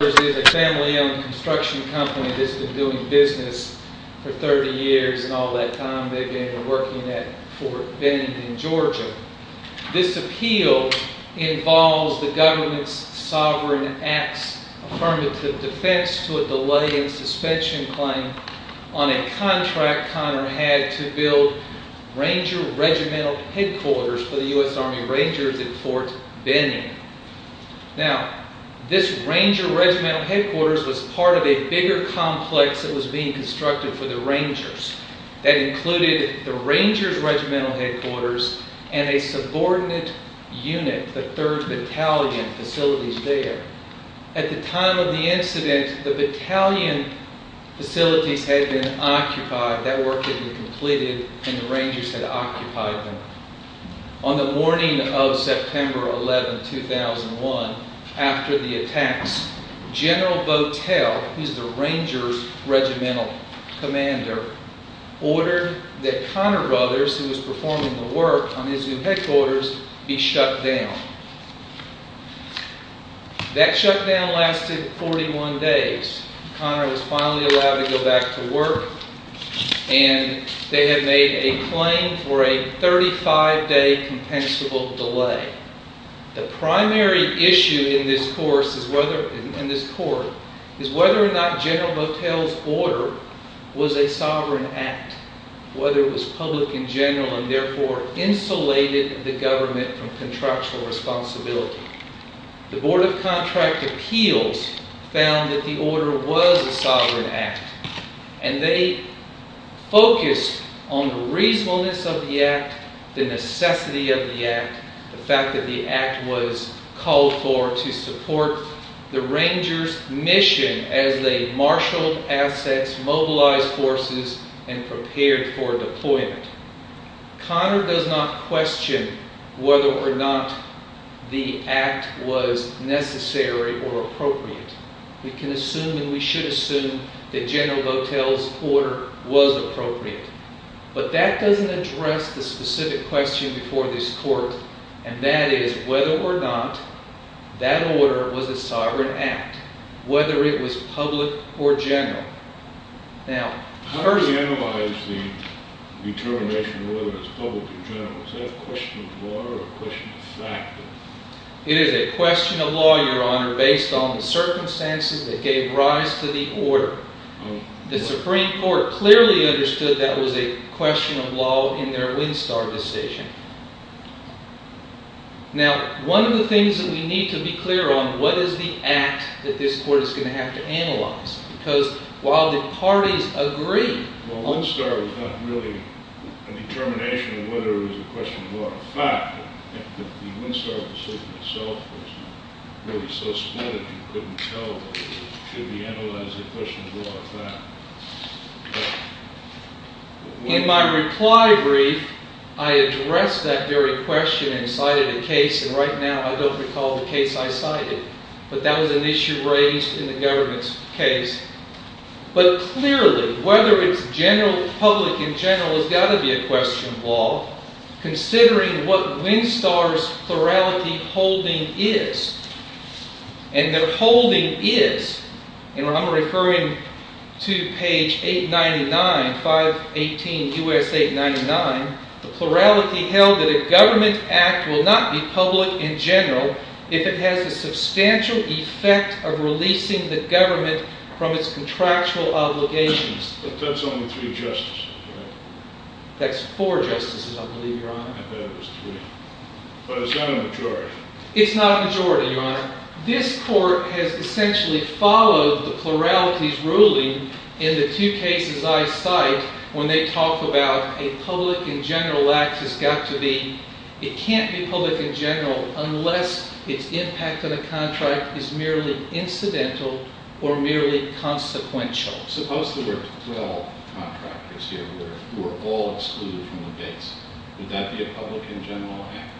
Conner Bros is a family-owned construction company that's been doing business for 30 years and all that time. They were working at Fort Benning in Georgia. This appeal involves the government's Sovereign Acts Affirmative Defense to a delay in suspension claim on a contract Conner had to build Ranger Regimental Headquarters for the U.S. Army Rangers at Fort Benning. Now, this Ranger Regimental Headquarters was part of a bigger complex that was being constructed for the Rangers. That included the Rangers Regimental Headquarters and a subordinate unit, the 3rd Battalion facilities there. At the time of the incident, the Battalion facilities had been occupied. That work had been completed and the Rangers had occupied them. On the morning of September 11, 2001, after the attacks, General Votel, who's the Rangers Regimental Commander, ordered that Conner Bros, who was performing the work on his new headquarters, be shut down. That shutdown lasted 41 days. Conner was finally allowed to go back to work and they had made a claim for a 35-day compensable delay. The primary issue in this court is whether or not General Votel's order was a sovereign act, whether it was public in general and therefore insulated the government from contractual responsibility. The Board of Contract Appeals found that the order was a sovereign act and they focused on the reasonableness of the act, the necessity of the act, the fact that the act was called for to support the Rangers' mission as they marshaled assets, mobilized forces, and prepared for deployment. Conner does not question whether or not the act was necessary or appropriate. We can assume and we should assume that General Votel's order was appropriate. But that doesn't address the specific question before this court, and that is whether or not that order was a sovereign act, whether it was public or general. How do we analyze the determination whether it's public or general? Is that a question of law or a question of fact? It is a question of law, Your Honor, based on the circumstances that gave rise to the order. The Supreme Court clearly understood that was a question of law in their Winstar decision. Now, one of the things that we need to be clear on, what is the act that this court is going to have to analyze? Because while the parties agree— Well, Winstar was not really a determination of whether it was a question of law or fact. The Winstar decision itself was really so split that you couldn't tell whether it should be analyzed as a question of law or fact. In my reply brief, I addressed that very question and cited a case, and right now I don't recall the case I cited. But that was an issue raised in the government's case. But clearly, whether it's public in general has got to be a question of law, considering what Winstar's plurality holding is. And their holding is, and I'm referring to page 899, 518 U.S. 899, the plurality held that a government act will not be public in general if it has a substantial effect of releasing the government from its contractual obligations. But that's only three justices, right? That's four justices, I believe, Your Honor. I thought it was three. But it's not a majority. It's not a majority, Your Honor. This court has essentially followed the plurality's ruling in the two cases I cite when they talk about a public in general act has got to be, it can't be public in general unless its impact on a contract is merely incidental or merely consequential. Suppose there were 12 contractors here who were all excluded from the base. Would that be a public in general act?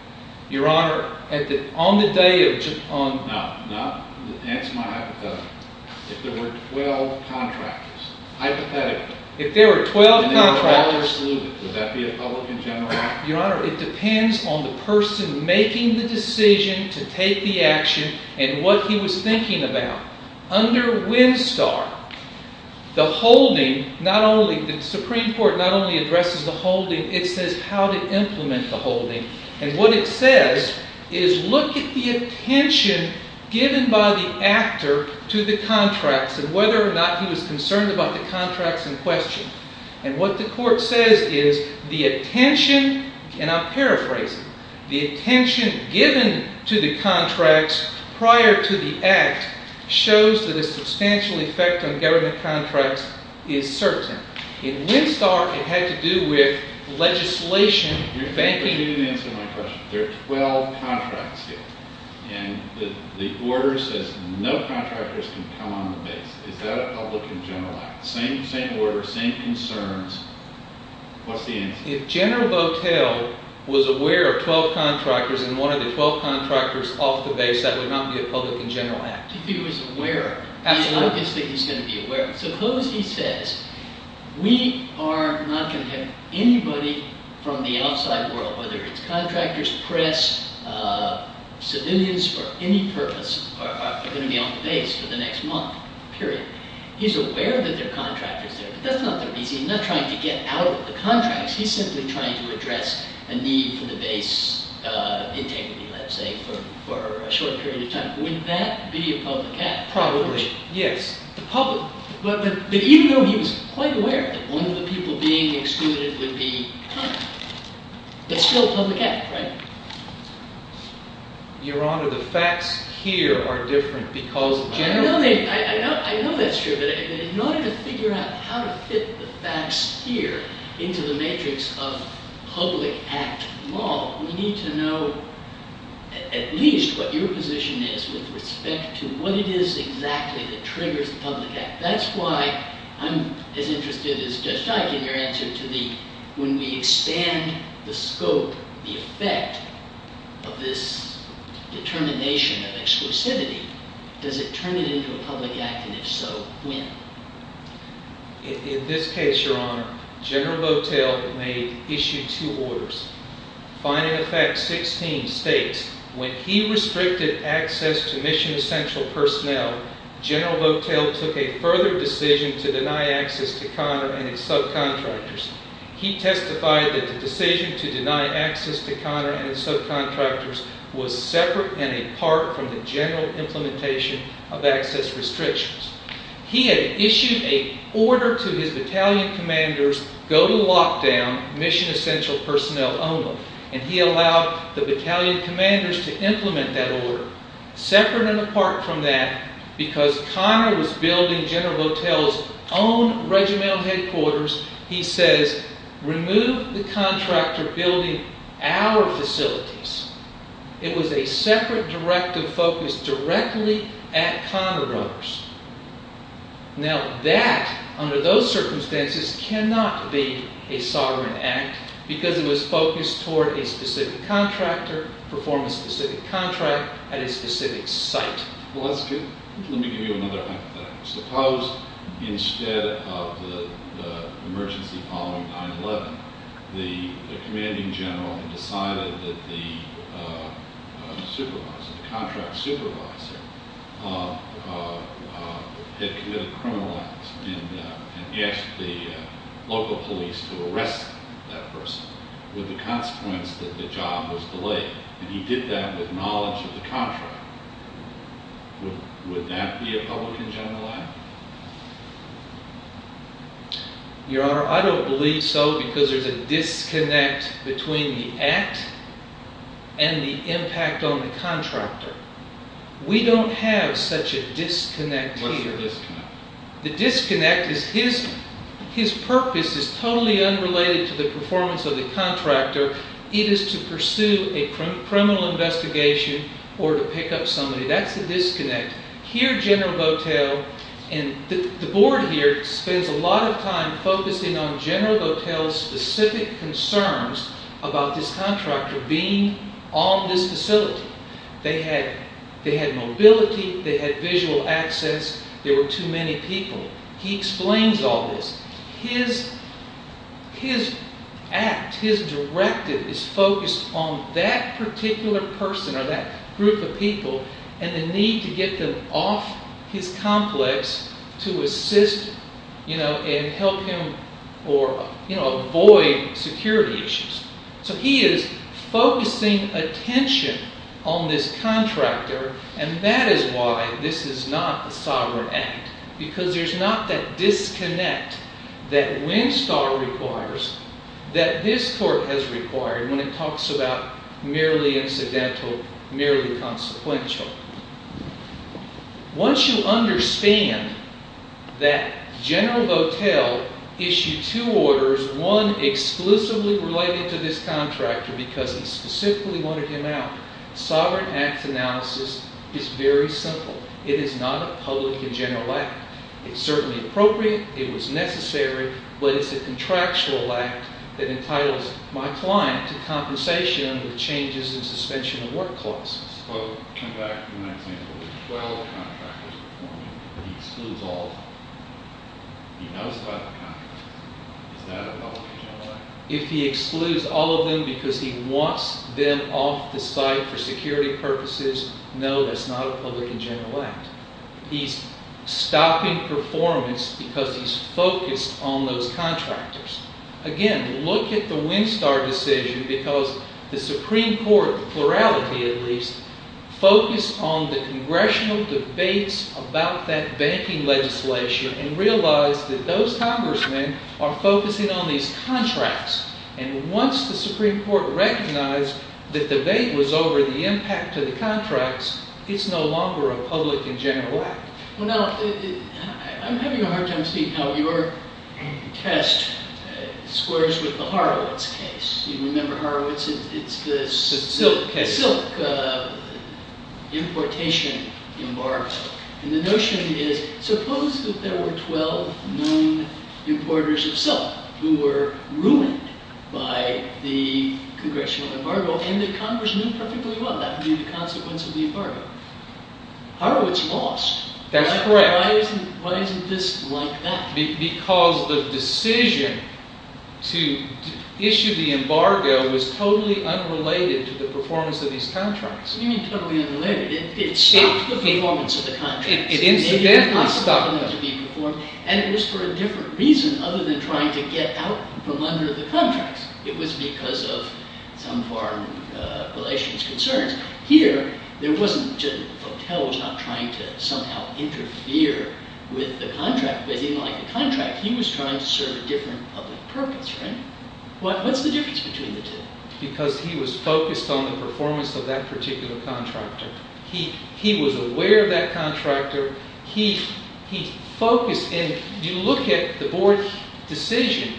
Your Honor, on the day of... No, no. Answer my hypothetical. If there were 12 contractors, hypothetically... If there were 12 contractors... If they were all excluded, would that be a public in general act? Your Honor, it depends on the person making the decision to take the action and what he was thinking about. Under Winstar, the holding, not only, the Supreme Court not only addresses the holding, it says how to implement the holding. And what it says is look at the attention given by the actor to the contracts and whether or not he was concerned about the contracts in question. And what the court says is the attention, and I'm paraphrasing, the attention given to the contracts prior to the act shows that a substantial effect on government contracts is certain. In Winstar, it had to do with legislation, banking... You didn't answer my question. There are 12 contracts here. And the order says no contractors can come on the base. Is that a public in general act? Same order, same concerns. What's the answer? If General Botel was aware of 12 contractors and one of the 12 contractors off the base, that would not be a public in general act. If he was aware of it, it's obvious that he's going to be aware of it. Suppose he says, we are not going to have anybody from the outside world, whether it's contractors, press, civilians for any purpose, are going to be on the base for the next month, period. He's aware that there are contractors there, but that's not the reason. He's not trying to get out of the contracts. He's simply trying to address a need for the base integrity, let's say, for a short period of time. Would that be a public act? Probably, yes. But even though he was quite aware that one of the people being excluded would be, it's still a public act, right? Your Honor, the facts here are different because generally. I know that's true. But in order to figure out how to fit the facts here into the matrix of public act law, we need to know at least what your position is with respect to what it is exactly that triggers the public act. That's why I'm as interested as Judge Dike in your answer to the, when we expand the scope, the effect of this determination of exclusivity, does it turn it into a public act, and if so, when? In this case, Your Honor, General Votel made issue two orders. Final effect 16 states, when he restricted access to mission essential personnel, General Votel took a further decision to deny access to Conner and his subcontractors. He testified that the decision to deny access to Conner and his subcontractors was separate and apart from the general implementation of access restrictions. He had issued an order to his battalion commanders, go to lockdown mission essential personnel only, and he allowed the battalion commanders to implement that order. Separate and apart from that, because Conner was building General Votel's own regimental headquarters, he says, remove the contractor building our facilities. It was a separate directive focused directly at Conner runners. Now that, under those circumstances, cannot be a sovereign act, because it was focused toward a specific contractor, performing a specific contract at a specific site. Well, that's good. Let me give you another hypothetical. Suppose instead of the emergency following 9-11, the commanding general had decided that the supervisor, the contract supervisor, had committed a criminal act and asked the local police to arrest that person with the consequence that the job was delayed, and he did that with knowledge of the contractor. Would that be a public and general act? Your Honor, I don't believe so, because there's a disconnect between the act and the impact on the contractor. We don't have such a disconnect here. What's the disconnect? The disconnect is his purpose is totally unrelated to the performance of the contractor. It is to pursue a criminal investigation or to pick up somebody. That's the disconnect. Here, General Votel, and the board here, spends a lot of time focusing on General Votel's specific concerns about this contractor being on this facility. They had mobility. They had visual access. There were too many people. He explains all this. His act, his directive, is focused on that particular person or that group of people and the need to get them off his complex to assist and help him avoid security issues. So he is focusing attention on this contractor, and that is why this is not a sovereign act, because there's not that disconnect that Winstar requires that this court has required when it talks about merely incidental, merely consequential. Once you understand that General Votel issued two orders, one exclusively related to this contractor because he specifically wanted him out, sovereign act analysis is very simple. It is not a public and general act. It's certainly appropriate. It was necessary, but it's a contractual act that entitles my client to compensation under the Changes in Suspension of Work Clause. If I can come back to my example, there are 12 contractors performing, but he excludes all of them. He knows about the contractors. Is that a public and general act? If he excludes all of them because he wants them off the site for security purposes, no, that's not a public and general act. He's stopping performance because he's focused on those contractors. Again, look at the Winstar decision because the Supreme Court, the plurality at least, focused on the congressional debates about that banking legislation and realized that those congressmen are focusing on these contracts. And once the Supreme Court recognized that the debate was over the impact of the contracts, it's no longer a public and general act. Well, now, I'm having a hard time seeing how your test squares with the Horowitz case. You remember Horowitz? It's the silk importation embargo. And the notion is suppose that there were 12 known importers of silk who were ruined by the congressional embargo and the congressmen perfectly well knew the consequence of the embargo. Horowitz lost. That's correct. Why isn't this like that? Because the decision to issue the embargo was totally unrelated to the performance of these contracts. What do you mean totally unrelated? It stopped the performance of the contracts. It incidentally stopped them. And it was for a different reason other than trying to get out from under the contracts. It was because of some foreign relations concerns. Here, there wasn't. Votel was not trying to somehow interfere with the contract, but he liked the contract. He was trying to serve a different public purpose, right? What's the difference between the two? Because he was focused on the performance of that particular contractor. He was aware of that contractor. He focused in. You look at the board decision,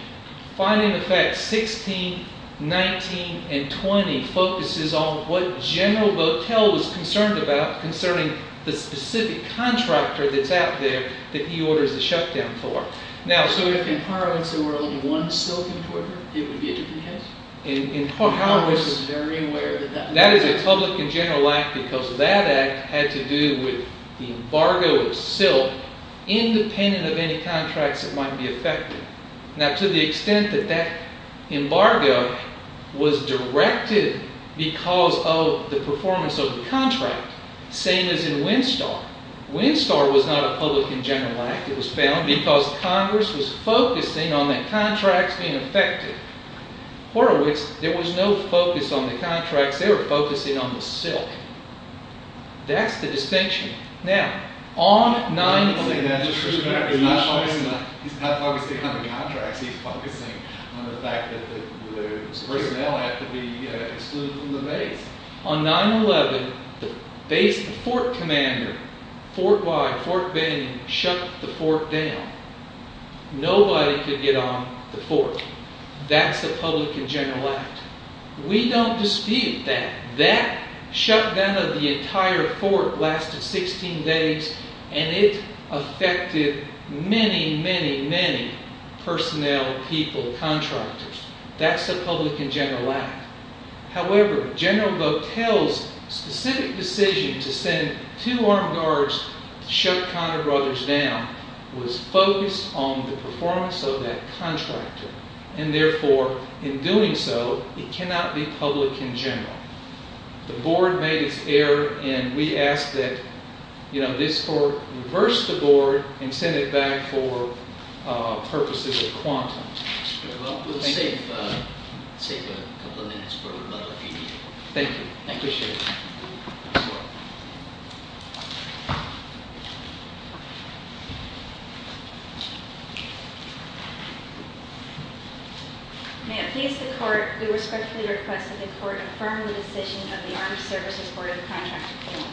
finding the fact 16, 19, and 20 focuses on what General Votel was concerned about concerning the specific contractor that's out there that he orders the shutdown for. Now, so if in Horowitz there were only one silk importer, it would be a different case? In Horowitz, that is a public and general act because that act had to do with the embargo of silk independent of any contracts that might be affected. Now, to the extent that that embargo was directed because of the performance of the contract, same as in Winstar. Winstar was not a public and general act. It was found because Congress was focusing on the contracts being affected. Horowitz, there was no focus on the contracts. They were focusing on the silk. That's the distinction. Now, on 9-11... He's not focusing on the contracts. He's focusing on the fact that the personnel had to be excluded from the base. On 9-11, the base, the fort commander, Fort Wye, Fort Benning, shut the fort down. Nobody could get on the fort. That's a public and general act. We don't dispute that. That shut down of the entire fort lasted 16 days, and it affected many, many, many personnel, people, contractors. That's a public and general act. However, General Votel's specific decision to send two armed guards to shut Conner Brothers down was focused on the performance of that contractor, and therefore, in doing so, it cannot be public and general. The board made its error, and we ask that this court reverse the board and send it back for purposes of quantum. Well, we'll save a couple of minutes for another few people. Thank you. Thank you, sir. Thank you. May it please the court, we respectfully request that the court affirm the decision of the Armed Services Board of Contractors.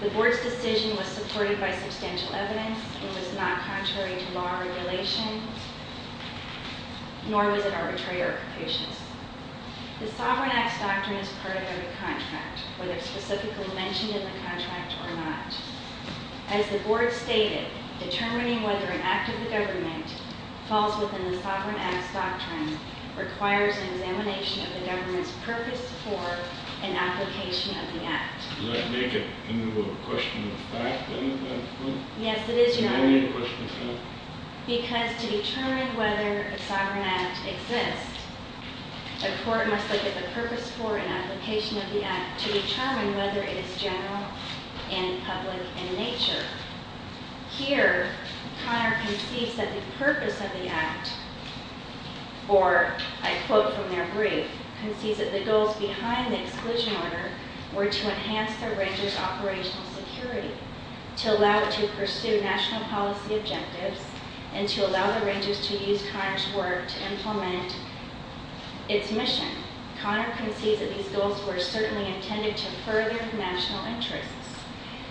The board's decision was supported by substantial evidence and was not contrary to law or regulations, nor was it arbitrary or confucius. The Sovereign Acts Doctrine is part of every contract, whether specifically mentioned in the contract or not. As the board stated, determining whether an act of the government falls within the Sovereign Acts Doctrine requires an examination of the government's purpose for an application of the act. Does that make it into a question of fact, then, at that point? Yes, it is, Your Honor. Why do you need a question of fact? Because to determine whether a sovereign act exists, a court must look at the purpose for an application of the act to determine whether it is general and public in nature. Here, Conner concedes that the purpose of the act, or I quote from their brief, concedes that the goals behind the Exclusion Order were to enhance the Rangers' operational security, to allow it to pursue national policy objectives, and to allow the Rangers to use Conner's work to implement its mission. Conner concedes that these goals were certainly intended to further national interests,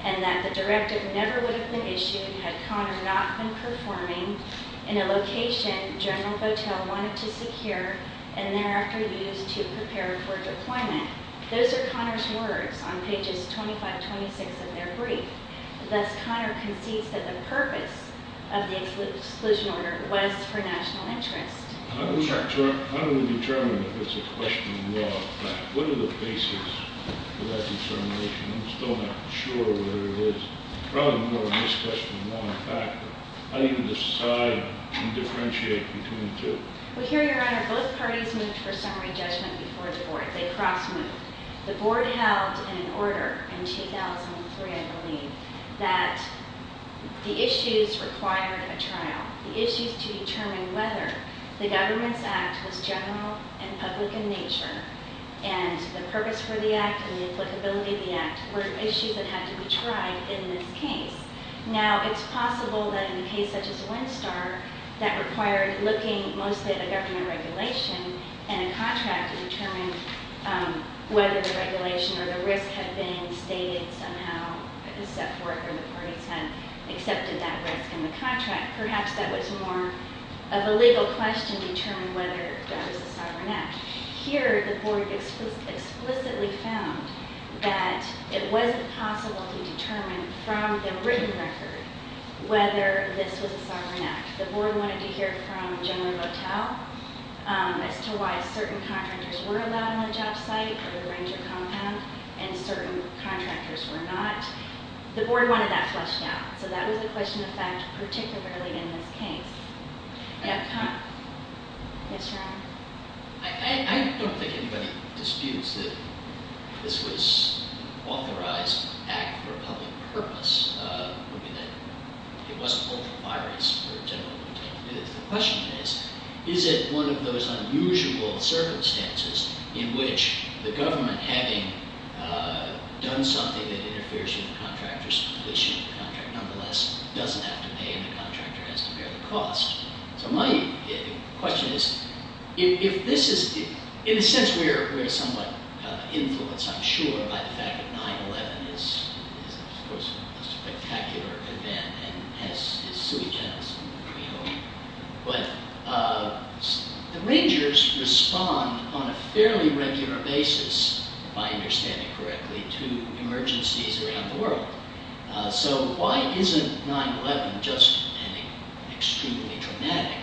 and that the directive never would have been issued had Conner not been performing in a location General Votel wanted to secure and thereafter use to prepare for deployment. Those are Conner's words on pages 25-26 of their brief. Thus, Conner concedes that the purpose of the Exclusion Order was for national interest. I'm going to determine if it's a question of law or fact. What are the basis for that determination? I'm still not sure what it is. Probably more a misquestion of law than fact. How do you decide and differentiate between the two? Well, here, Your Honor, both parties moved for summary judgment before the board. They cross-moved. The board held in an order in 2003, I believe, that the issues required a trial. The issues to determine whether the government's act was general and public in nature, and the purpose for the act and the applicability of the act were issues that had to be tried in this case. Now, it's possible that in a case such as Winstar, that required looking mostly at a government regulation and a contract to determine whether the regulation or the risk had been stated somehow, except for if the parties had accepted that risk in the contract. Perhaps that was more of a legal question, determining whether that was a sovereign act. Here, the board explicitly found that it wasn't possible to determine from the written record whether this was a sovereign act. The board wanted to hear from General Votel as to why certain contractors were allowed on the job site or the ranger compound, and certain contractors were not. The board wanted that fleshed out. So that was a question of fact, particularly in this case. I don't think anybody disputes that this was an authorized act for a public purpose. I mean, it wasn't both the bodies or General Votel. The question is, is it one of those unusual circumstances in which the government, having done something that interferes with the contractor's completion of the contract, nonetheless doesn't have to pay and the contractor has to bear the cost. So my question is, if this is... In a sense, we're somewhat influenced, I'm sure, by the fact that 9-11 is, of course, a spectacular event and has its sui genis in the creole. But the rangers respond on a fairly regular basis, if I understand it correctly, to emergencies around the world. So why isn't 9-11 just an extremely dramatic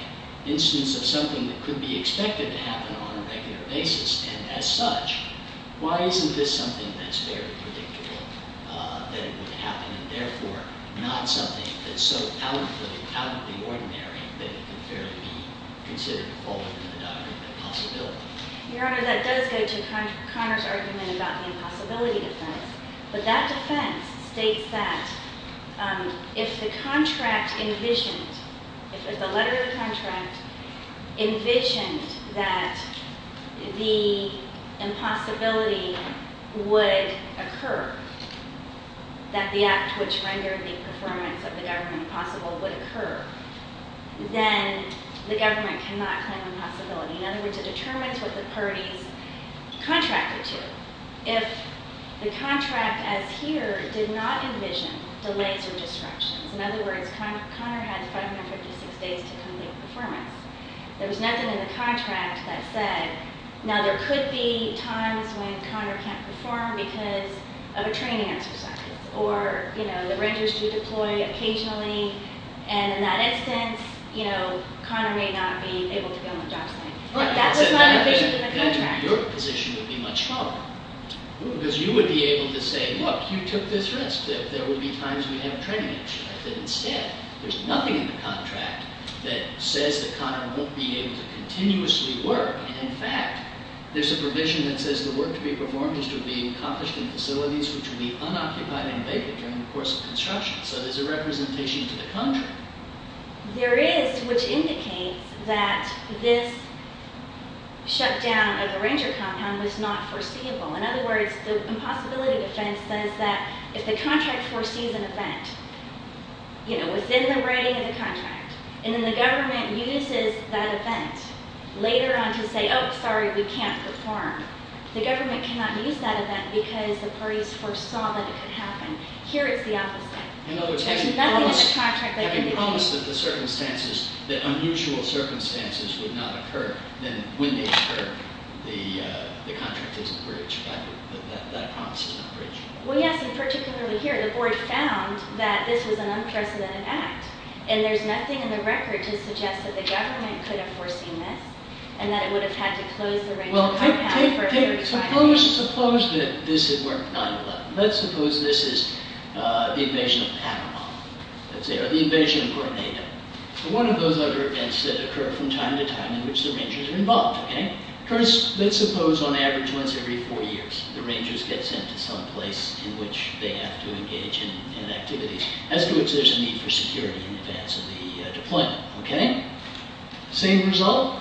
instance of something that could be expected to happen on a regular basis? And as such, why isn't this something that's very predictable, that it would happen and therefore not something that's so out of the ordinary that it could fairly be considered to fall into the diagram of possibility? Your Honor, that does go to Conor's argument about the impossibility defense. But that defense states that if the contract envisioned, if the letter of the contract envisioned that the impossibility would occur, that the act which rendered the performance of the government possible would occur, then the government cannot claim impossibility. In other words, it determines what the parties contracted to. If the contract as here did not envision delays or disruptions, in other words, Conor had 556 days to complete the performance, there was nothing in the contract that said, now there could be times when Conor can't perform because of a training exercise or the rangers do deploy occasionally, and in that instance, Conor may not be able to go on the job site. That was not envisioned in the contract. Your position would be much smaller. Because you would be able to say, look, you took this risk, that there would be times we have training exercises. Instead, there's nothing in the contract that says that Conor won't be able to continuously work. In fact, there's a provision that says the work to be performed is to be accomplished in facilities which would be unoccupied and vacant during the course of construction. So there's a representation to the contract. There is, which indicates that this shutdown of the ranger compound was not foreseeable. In other words, the impossibility defense says that if the contract foresees an event, you know, within the writing of the contract, and then the government uses that event later on to say, oh, sorry, we can't perform, the government cannot use that event because the parties foresaw that it could happen. Here it's the opposite. In other words, having promised that the circumstances, the unusual circumstances would not occur, then when they occur, the contract isn't breached. That promise is not breached. Well, yes, and particularly here. The board found that this was an unprecedented act, and there's nothing in the record to suggest that the government could have foreseen this and that it would have had to close the ranger compound for a period of time. Well, suppose that this had worked 9-11. Let's suppose this is the invasion of Panama, let's say, or the invasion of Puerto Negro. One of those other events that occur from time to time in which the rangers are involved. First, let's suppose on average once every four years, the rangers get sent to some place in which they have to engage in activities, as to which there's a need for security in advance of the deployment. Same result?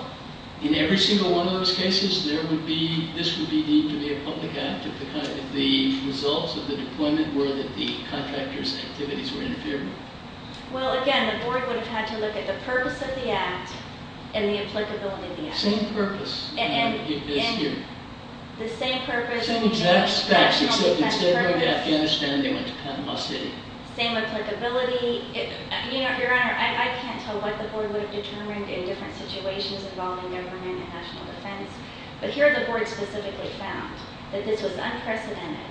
In every single one of those cases, there would be, this would need to be a public act if the results of the deployment were that the contractors' activities were interfered with. Well, again, the board would have had to look at the purpose of the act and the applicability of the act. Same purpose as here. The same purpose. Same exact steps, except instead of going to Afghanistan, they went to Panama City. Same applicability. Your Honor, I can't tell what the board would have determined in different situations involving government and national defense, but here the board specifically found that this was unprecedented.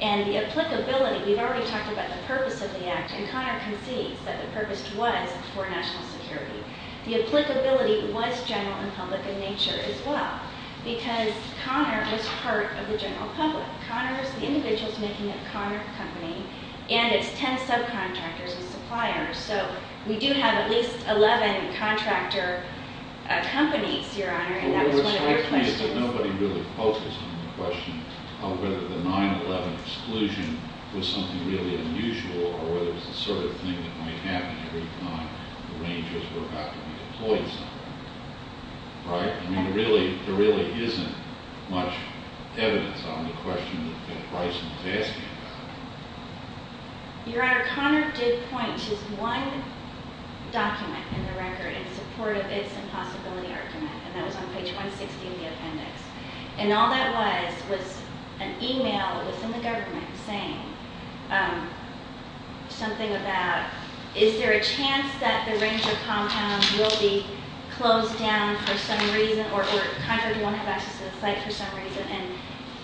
And the applicability, we've already talked about the purpose of the act, and Conner concedes that the purpose was for national security. The applicability was general and public in nature as well, because Conner was part of the general public. Conner is the individuals making up Conner Company, and it's ten subcontractors and suppliers. So we do have at least 11 contractor companies, Your Honor, and that was one of your questions. Well, it strikes me that nobody really focused on the question of whether the 9-11 exclusion was something really unusual or whether it was the sort of thing that might happen every time the Rangers were about to be deployed somewhere. Right? I mean, there really isn't much evidence on the question that Bryson was asking about. Your Honor, Conner did point to one document in the record in support of its impossibility argument, and that was on page 160 in the appendix. And all that was was an e-mail that was in the government saying something about, is there a chance that the Ranger compound will be closed down for some reason or Conner won't have access to the site for some reason, and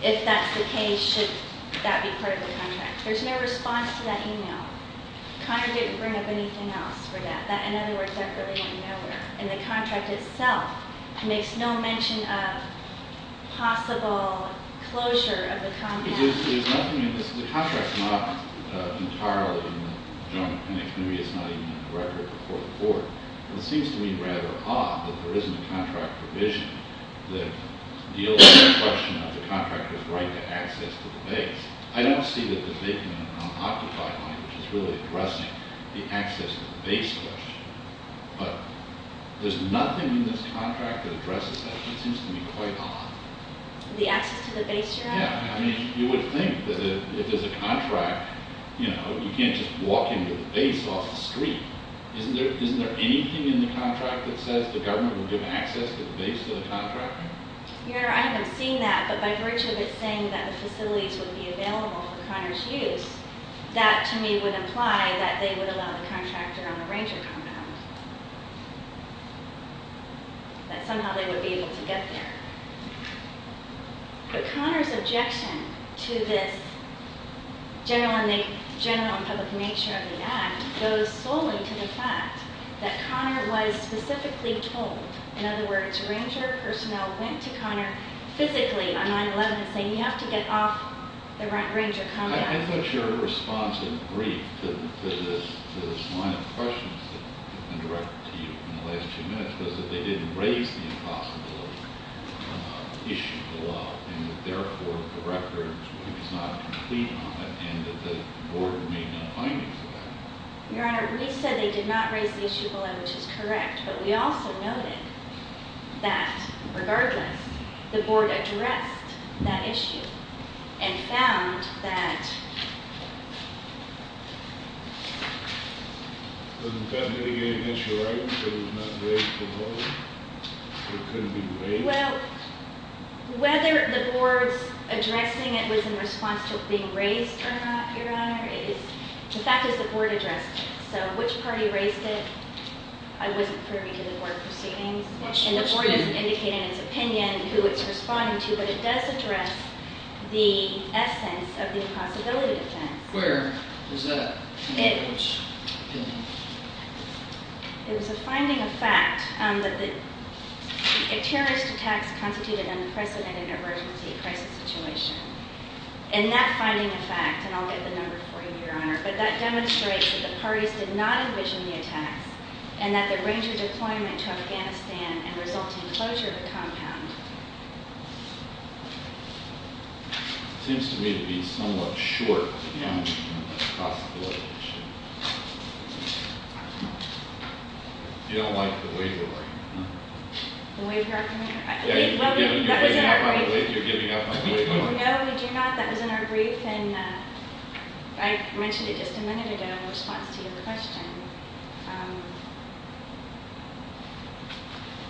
if that's the case, should that be part of the contract? There's no response to that e-mail. Conner didn't bring up anything else for that. In other words, that really went nowhere. And the contract itself makes no mention of possible closure of the compound. There's nothing in this. The contract's not entirely in the joint appendix. Maybe it's not even in the record before the court. It seems to me rather odd that there isn't a contract provision that deals with the question of the contractor's right to access to the base. I don't see that there's making an unoccupied line, which is really addressing the access to the base question. But there's nothing in this contract that addresses that. It seems to me quite odd. The access to the base you're asking? Yeah. I mean, you would think that if there's a contract, you know, you can't just walk into the base off the street. Isn't there anything in the contract that says the government will give access to the base to the contractor? Your Honor, I haven't seen that. But by virtue of it saying that the facilities would be available for Conner's use, that to me would imply that they would allow the contractor on a ranger compound, that somehow they would be able to get there. But Conner's objection to this general and public nature of the act goes solely to the fact that Conner was specifically told. In other words, ranger personnel went to Conner physically on 9-11 and said, you have to get off the ranger compound. I thought your response in brief to this line of questions that have been directed to you in the last two minutes was that they didn't raise the impossibility issue below, and that therefore the record is not complete on that, and that the board made no findings of that. Your Honor, we said they did not raise the issue below, which is correct. But we also noted that, regardless, the board addressed that issue and found that- Doesn't that mitigate against your argument that it was not raised below? It couldn't be raised? Well, whether the board's addressing it was in response to it being raised or not, Your Honor, the fact is the board addressed it. So which party raised it, I wasn't privy to the board proceedings. And the board doesn't indicate in its opinion who it's responding to, but it does address the essence of the impossibility defense. Where was that in the board's opinion? It was a finding of fact that terrorist attacks constituted an unprecedented emergency crisis situation. And that finding of fact, and I'll get the number for you, Your Honor, but that demonstrates that the parties did not envision the attacks and that the ranger deployment to Afghanistan and resulting closure of the compound. It seems to me to be somewhat short on possible evidence. You don't like the waiver argument, huh? The waiver argument? You're giving up on the waiver argument? No, we do not. That was in our brief. And I mentioned it just a minute ago in response to your question.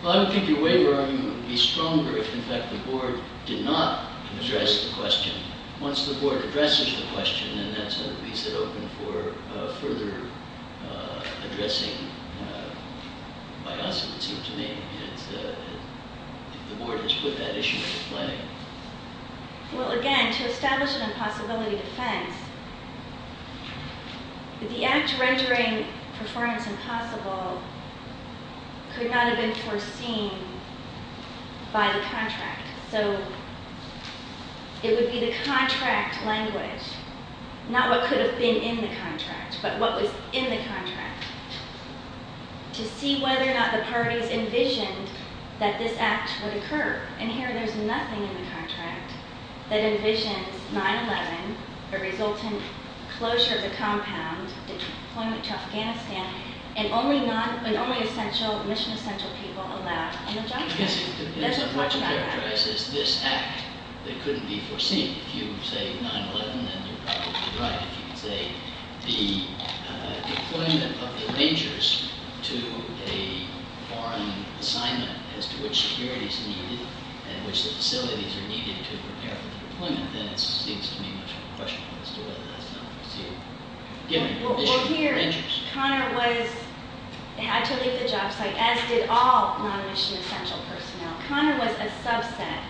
Well, I would think your waiver argument would be stronger if, in fact, the board did not address the question. Once the board addresses the question, then that sort of leaves it open for further addressing by us, it would seem to me, if the board has put that issue into play. Well, again, to establish an impossibility defense, the act rendering performance impossible could not have been foreseen by the contract. So it would be the contract language, not what could have been in the contract, but what was in the contract, to see whether or not the parties envisioned that this act would occur. And here there's nothing in the contract that envisions 9-11, the resultant closure of the compound, deployment to Afghanistan, and only essential, mission-essential people allowed on the job. I guess what you characterize is this act that couldn't be foreseen. If you say 9-11, then you're probably right. If you say the deployment of the Rangers to a foreign assignment as to which security is needed and which the facilities are needed to prepare for the deployment, then it seems to me much more questionable as to whether that's not foreseeable. Well, here, Connor had to leave the job site, as did all non-mission-essential personnel. Connor was a subset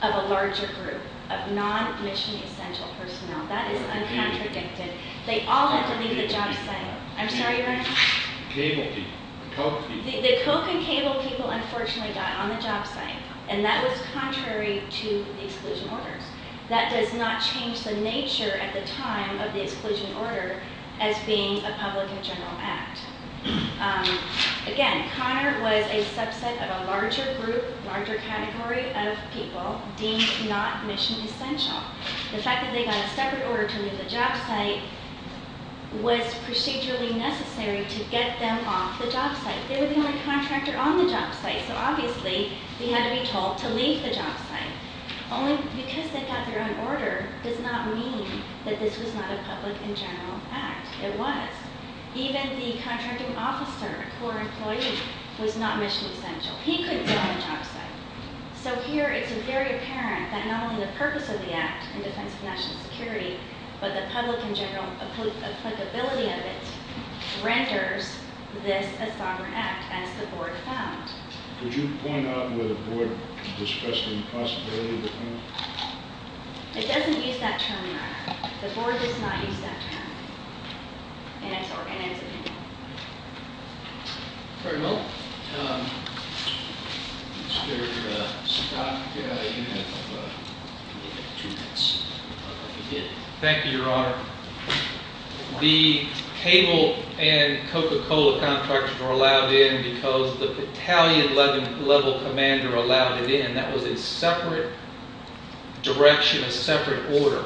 of a larger group of non-mission-essential personnel. That is uncontradicted. They all had to leave the job site. I'm sorry, Your Honor? Cable people, the coke people. The coke and cable people, unfortunately, got on the job site, and that was contrary to the exclusion orders. That does not change the nature at the time of the exclusion order as being a public and general act. Again, Connor was a subset of a larger group, larger category of people deemed not mission-essential. The fact that they got a separate order to leave the job site was procedurally necessary to get them off the job site. They were the only contractor on the job site, so obviously they had to be told to leave the job site. Only because they got their own order does not mean that this was not a public and general act. It was. Even the contracting officer, a core employee, was not mission-essential. He couldn't go on the job site. So here it's very apparent that not only the purpose of the act in defense of national security, but the public and general applicability of it renders this a sovereign act, as the Board found. Could you point out whether the Board discussed the possibility of the term? It doesn't use that term, Your Honor. The Board does not use that term in its organization. Thank you, Your Honor. The cable and Coca-Cola contracts were allowed in because the battalion-level commander allowed it in. That was a separate direction, a separate order.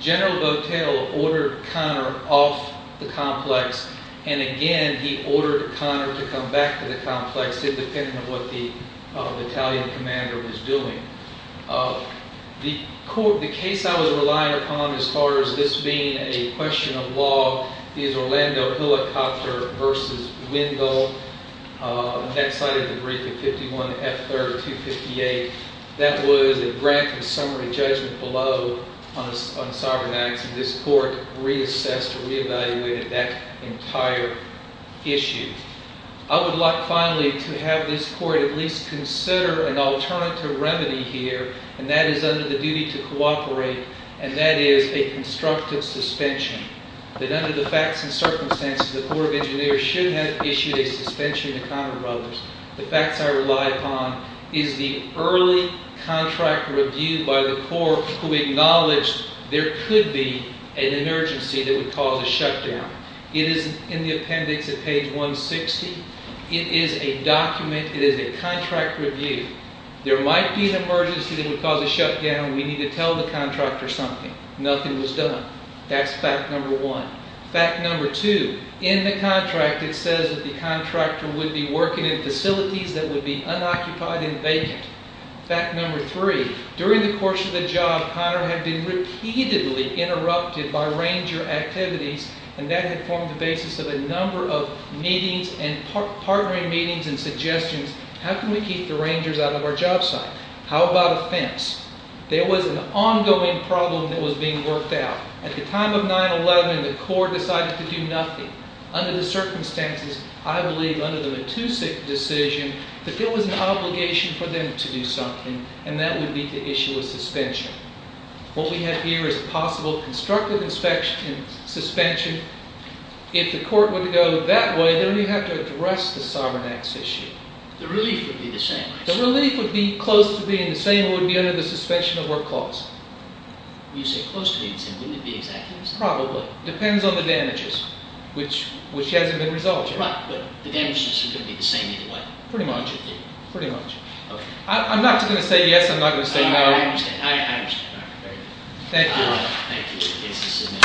General Botel ordered Conner off the complex, and again he ordered Conner to come back to the complex independent of what the battalion commander was doing. The case I was relying upon as far as this being a question of law is Orlando Helicopter v. Wendell. That cited the brief of 51F3258. That was a grant of summary judgment below on a sovereign act, and this Court reassessed or reevaluated that entire issue. I would like finally to have this Court at least consider an alternative remedy here, and that is under the duty to cooperate, and that is a constructive suspension. That under the facts and circumstances, the Corps of Engineers should have issued a suspension to Conner Brothers. The facts I rely upon is the early contract review by the Corps who acknowledged there could be an emergency that would cause a shutdown. It is in the appendix at page 160. It is a document. It is a contract review. There might be an emergency that would cause a shutdown. We need to tell the contractor something. Nothing was done. That's fact number one. Fact number two, in the contract it says that the contractor would be working in facilities that would be unoccupied and vacant. Fact number three, during the course of the job, Conner had been repeatedly interrupted by ranger activities, and that had formed the basis of a number of meetings and partnering meetings and suggestions. How can we keep the rangers out of our job site? How about a fence? There was an ongoing problem that was being worked out. At the time of 9-11, the Corps decided to do nothing. Under the circumstances, I believe under the Matusik decision, that there was an obligation for them to do something, and that would be to issue a suspension. What we have here is a possible constructive suspension. If the court were to go that way, then we'd have to address the Sovereign Acts issue. The relief would be the same. It would be under the suspension of work clause. Probably. It depends on the damages, which hasn't been resolved yet. Pretty much. I'm not going to say yes, I'm not going to say no. Thank you.